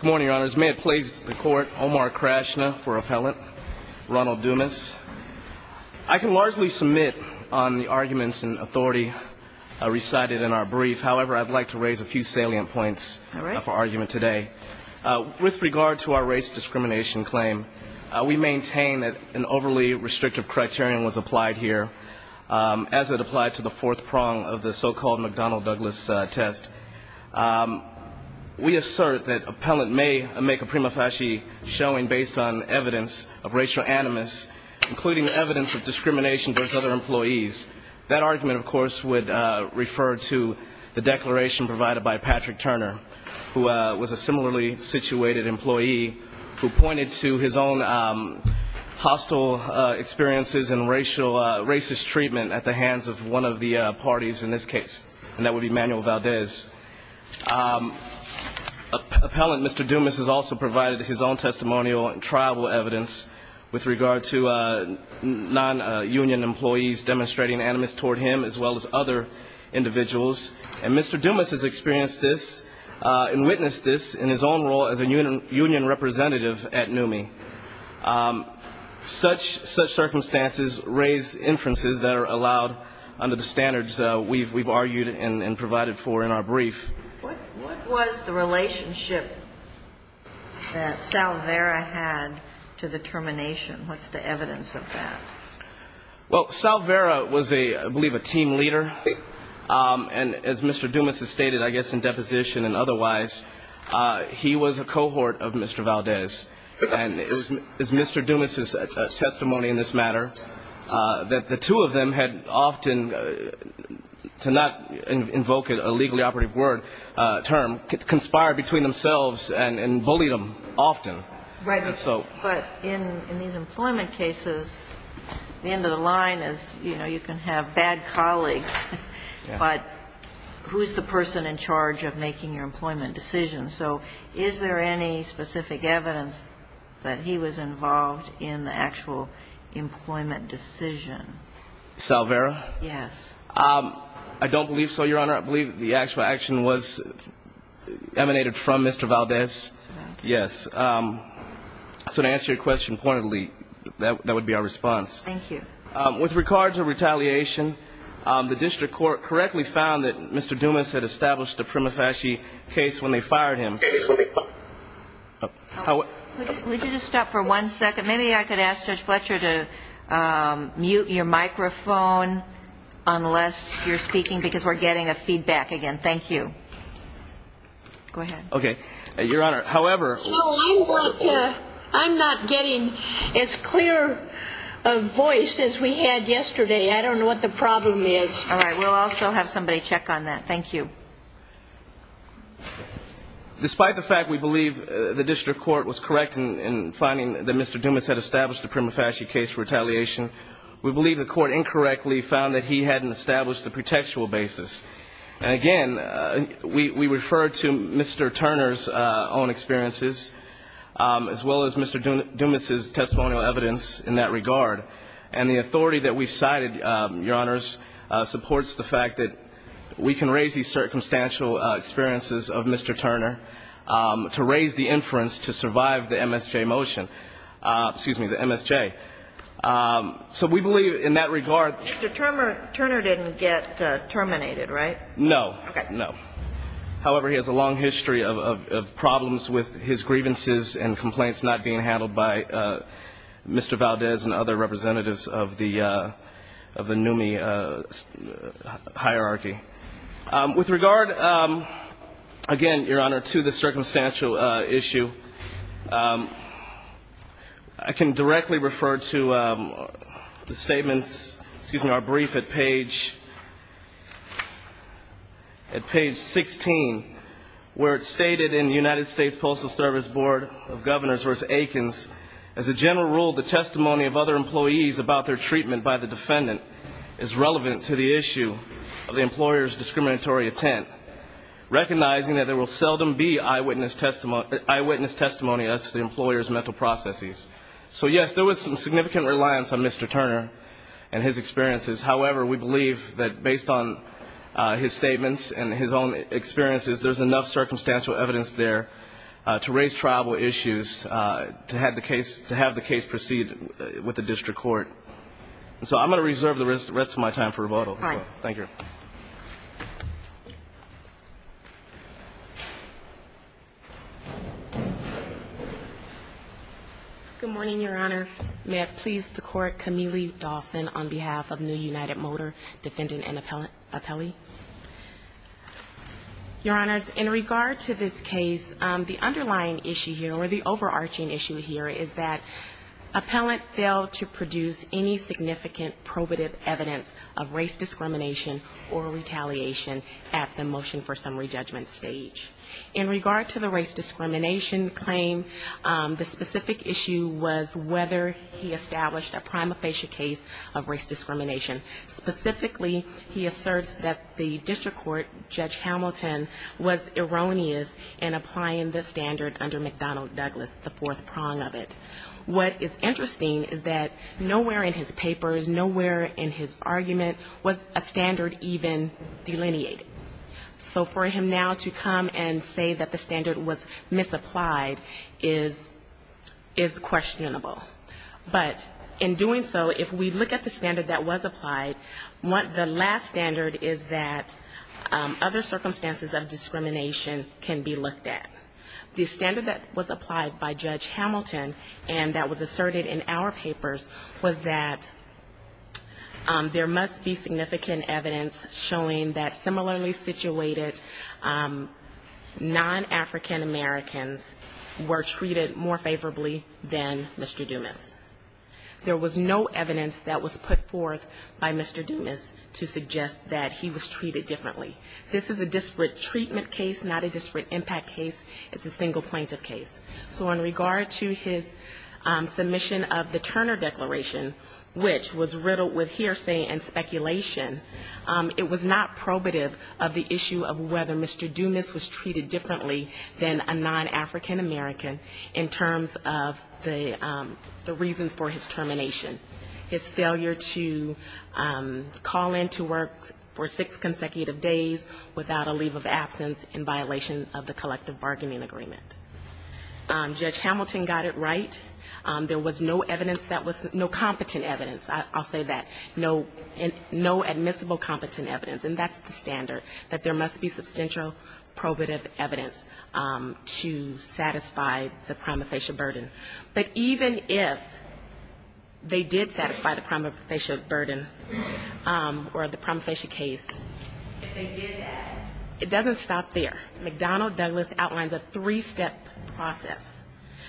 Good morning, Your Honors. May it please the Court, Omar Krashna for Appellant, Ronald Dumas. I can largely submit on the arguments in authority recited in our brief. However, I'd like to raise a few salient points of our argument today. With regard to our race discrimination claim, we maintain that an overly restrictive criterion was applied here as it applied to the fourth prong of the so-called McDonnell-Douglas test. We assert that Appellant may make a prima facie showing based on evidence of racial animus, including evidence of discrimination towards other employees. That argument, of course, would refer to the declaration provided by Patrick Turner, who was a similarly situated employee who pointed to his own hostile experiences and racist treatment at the hands of one of the parties in this case, and that would be Manuel Valdez. Appellant, Mr. Dumas, has also provided his own testimonial and tribal evidence with regard to non-union employees demonstrating animus toward him as well as other individuals. And Mr. Dumas has experienced this and witnessed this in his own role as a union representative at NUMMI. Such circumstances raise inferences that are allowed under the standards we've argued and provided for in our brief. What was the relationship that Salvera had to the termination? What's the evidence of that? Well, Salvera was, I believe, a team leader. And as Mr. Dumas has stated, I guess, in deposition and otherwise, he was a cohort of Mr. Valdez. And as Mr. Dumas' testimony in this matter, that the two of them had often, to not invoke a legally operative word, term, conspired between themselves and bullied them often. Right. But in these employment cases, the end of the line is, you know, you can have bad colleagues. But who is the person in charge of making your employment decision? So is there any specific evidence that he was involved in the actual employment decision? Salvera? Yes. I don't believe so, Your Honor. I believe the actual action was emanated from Mr. Valdez. Yes. So to answer your question pointedly, that would be our response. Thank you. With regard to retaliation, the district court correctly found that Mr. Dumas had established a prima facie case when they fired him. Would you just stop for one second? Maybe I could ask Judge Fletcher to mute your microphone unless you're speaking because we're getting a feedback again. Thank you. Go ahead. Okay. Your Honor, however. No, I'm not getting as clear a voice as we had yesterday. I don't know what the problem is. All right. We'll also have somebody check on that. Thank you. Despite the fact we believe the district court was correct in finding that Mr. Dumas had established a prima facie case for retaliation, we believe the court incorrectly found that he hadn't established the pretextual basis. And again, we refer to Mr. Turner's own experiences as well as Mr. Dumas's testimonial evidence in that regard. And the authority that we've cited, Your Honors, supports the fact that we can raise these circumstantial experiences of Mr. Turner to raise the inference to survive the MSJ motion. Excuse me, the MSJ. So we believe in that regard. Mr. Turner didn't get terminated, right? No. Okay. No. However, he has a long history of problems with his grievances and complaints not being handled by Mr. Valdez and other representatives of the NUMMI hierarchy. With regard, again, Your Honor, to the circumstantial issue, I can directly refer to the statements, excuse me, our brief at page 16, where it's stated in the United States Postal Service Board of Governors v. Akins, as a general rule, the testimony of other employees about their treatment by the defendant is relevant to the issue of the employer's discriminatory intent, recognizing that there will seldom be eyewitness testimony as to the employer's mental processes. So, yes, there was some significant reliance on Mr. Turner and his experiences. However, we believe that based on his statements and his own experiences, there's enough circumstantial evidence there to raise trialable issues to have the case proceed with the district court. So I'm going to reserve the rest of my time for rebuttal. Thank you. Good morning, Your Honor. May it please the Court, Camille Dawson on behalf of New United Motor Defendant and Appellee. Your Honors, in regard to this case, the underlying issue here, or the overarching issue here, is that appellant failed to produce any significant probative evidence of race discrimination or retaliation at the motion for summary judgment stage. In regard to the race discrimination claim, the specific issue was whether he established a prima facie case of race discrimination. Specifically, he asserts that the district court, Judge Hamilton, was erroneous in applying the standard under McDonnell Douglas, the fourth prong of it. What is interesting is that nowhere in his papers, nowhere in his argument was a standard even delineated. So for him now to come and say that the standard was misapplied is questionable. But in doing so, if we look at the standard that was applied, the last standard is that other circumstances of discrimination can be looked at. The standard that was applied by Judge Hamilton, and that was asserted in our papers, was that there must be significant evidence showing that similarly situated non-African Americans were treated more favorably than Mr. Dumas. There was no evidence that was put forth by Mr. Dumas to suggest that he was treated differently. This is a disparate treatment case, not a disparate impact case. It's a single plaintiff case. So in regard to his submission of the Turner Declaration, which was riddled with hearsay and speculation, it was not probative of the issue of whether Mr. Dumas was treated differently than a non-African American in terms of the reasons for his termination. His failure to call in to work for six consecutive days without a leave of absence in violation of the collective bargaining agreement. Judge Hamilton got it right. There was no evidence that was no competent evidence, I'll say that, no admissible competent evidence. And that's the standard, that there must be substantial probative evidence to satisfy the prima facie burden. But even if they did satisfy the prima facie burden, or the prima facie case, if they did that, it doesn't stop there. McDonnell Douglas outlines a three-step process.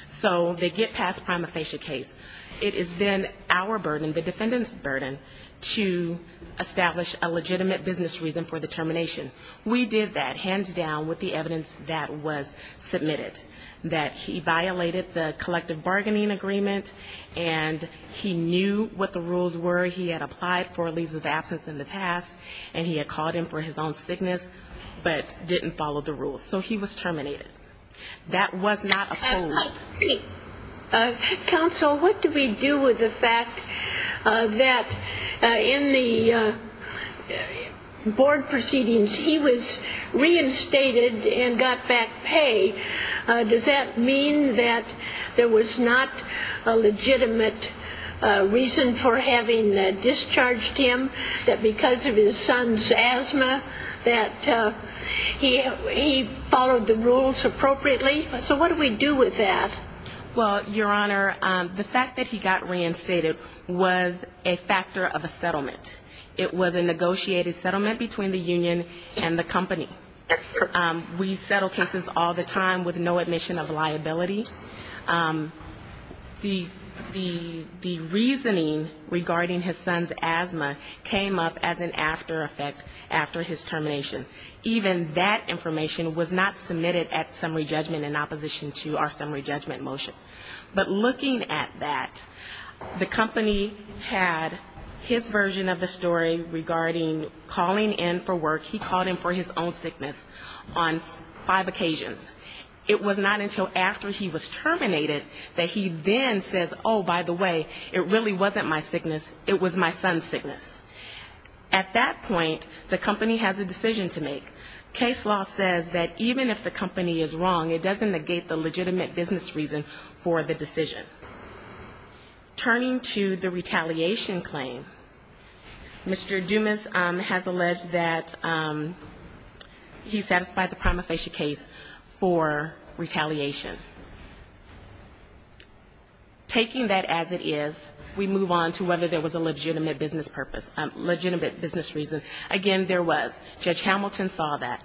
So they get past prima facie case. It is then our burden, the defendant's burden, to establish a legitimate business reason for the termination. We did that, hands down, with the evidence that was submitted, that he violated the collective bargaining agreement, and he knew what the rules were. He had applied for a leave of absence in the past, and he had called in for his own sickness, but didn't follow the rules. So he was terminated. That was not opposed. Counsel, what do we do with the fact that in the board proceedings he was reinstated and got back pay? Does that mean that there was not a legitimate reason for having discharged him, that because of his son's asthma, that he followed the rules appropriately? So what do we do with that? Well, Your Honor, the fact that he got reinstated was a factor of a settlement. It was a negotiated settlement between the union and the company. We settle cases all the time with no admission of liability. The reasoning regarding his son's asthma came up as an after effect after his termination. Even that information was not submitted at summary judgment in opposition to our summary judgment motion. But looking at that, the company had his version of the story regarding calling in for work. He called in for his own sickness on five occasions. It was not until after he was terminated that he then says, oh, by the way, it really wasn't my sickness, it was my son's sickness. At that point, the company has a decision to make. Case law says that even if the company is wrong, it doesn't negate the legitimate business reason for the decision. Turning to the retaliation claim, Mr. Dumas has alleged that he satisfied the prima facie case for retaliation. Taking that as it is, we move on to whether there was a legitimate business purpose, legitimate business reason. Again, there was. Judge Hamilton saw that.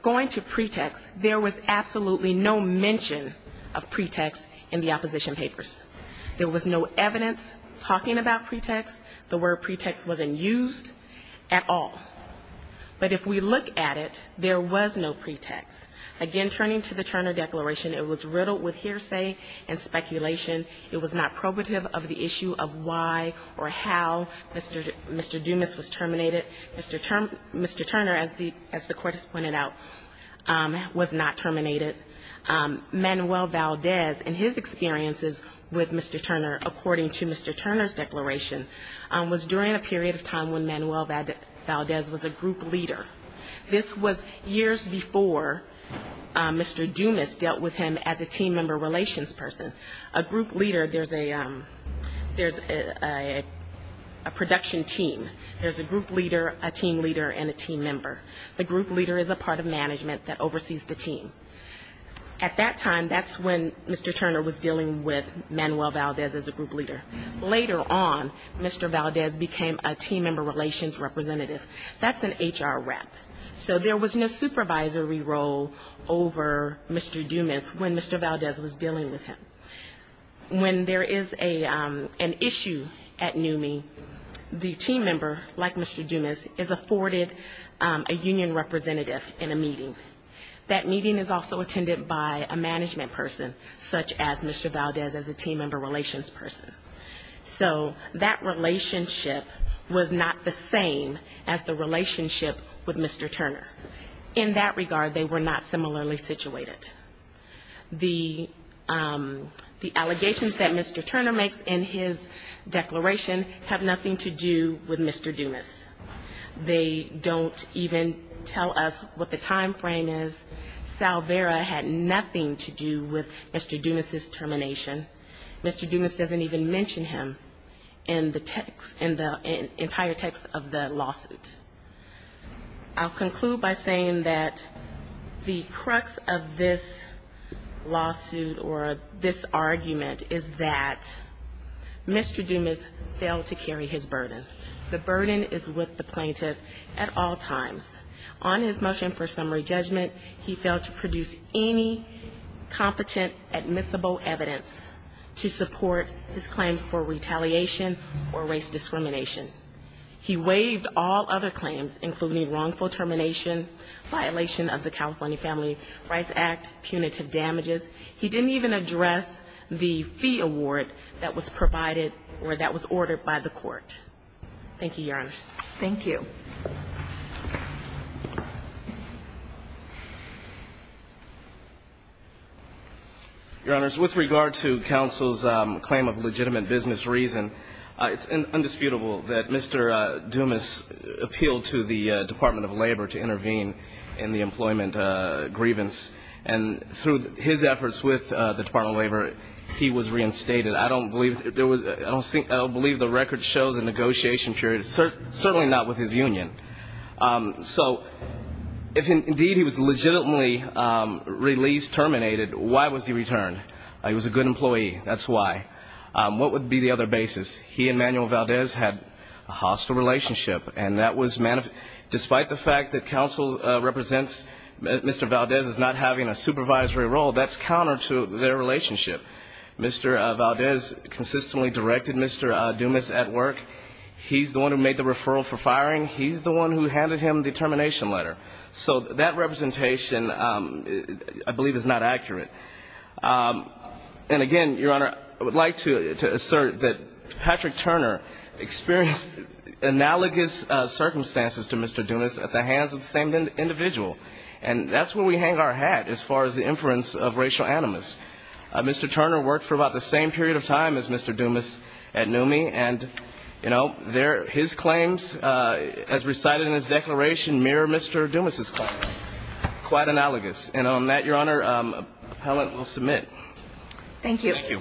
Going to pretext, there was absolutely no mention of pretext in the opposition papers. There was no evidence talking about pretext. The word pretext wasn't used at all. But if we look at it, there was no pretext. Again, turning to the Turner Declaration, it was riddled with hearsay and speculation. It was not probative of the issue of why or how Mr. Dumas was terminated. Mr. Turner, as the Court has pointed out, was not terminated. Manuel Valdez and his experiences with Mr. Turner, according to Mr. Turner's Declaration, was during a period of time when Manuel Valdez was a group leader. This was years before Mr. Dumas dealt with him as a team member relations person. A group leader, there's a production team. There's a group leader, a team leader, and a team member. The group leader is a part of management that oversees the team. At that time, that's when Mr. Turner was dealing with Manuel Valdez as a group leader. Later on, Mr. Valdez became a team member relations representative. That's an HR rep. So there was no supervisory role over Mr. Dumas when Mr. Valdez was dealing with him. When there is an issue at NUMMI, the team member, like Mr. Dumas, is afforded a union representative in a meeting. That meeting is also attended by a management person, such as Mr. Valdez as a team member relations person. So that relationship was not the same as the relationship with Mr. Turner. In that regard, they were not similarly situated. The allegations that Mr. Turner makes in his Declaration have nothing to do with Mr. Dumas. They don't even tell us what the timeframe is. Salvera had nothing to do with Mr. Dumas's termination. Mr. Dumas doesn't even mention him in the text, in the entire text of the lawsuit. I'll conclude by saying that the crux of this lawsuit or this argument is that Mr. Dumas failed to carry his burden. The burden is with the plaintiff at all times. On his motion for summary judgment, he failed to produce any competent admissible evidence to support his claims for retaliation or race discrimination. He waived all other claims, including wrongful termination, violation of the California Family Rights Act, punitive damages. He didn't even address the fee award that was provided or that was ordered by the court. Thank you, Your Honor. Your Honor, with regard to counsel's claim of legitimate business reason, it's undisputable that Mr. Dumas appealed to the Department of Labor to intervene in the employment grievance. And through his efforts with the Department of Labor, he was reinstated. I don't believe the record shows a negotiation period, certainly not with his union. So if indeed he was legitimately released, terminated, why was he returned? He was a good employee, that's why. What would be the other basis? He and Manuel Valdez had a hostile relationship. And that was, despite the fact that counsel represents Mr. Valdez as not having a supervisory role, that's counter to their relationship. Mr. Valdez consistently directed Mr. Dumas at work. He's the one who made the referral for firing. He's the one who handed him the termination letter. So that representation I believe is not accurate. And again, Your Honor, I would like to assert that Patrick Turner experienced analogous circumstances to Mr. Dumas at the hands of the same individual. And that's where we hang our hat as far as the inference of racial animus. Mr. Turner worked for about the same period of time as Mr. Dumas at NUMMI, and his claims as recited in his declaration mirror Mr. Dumas' claims, quite analogous. And on that, Your Honor, appellant will submit. Thank you.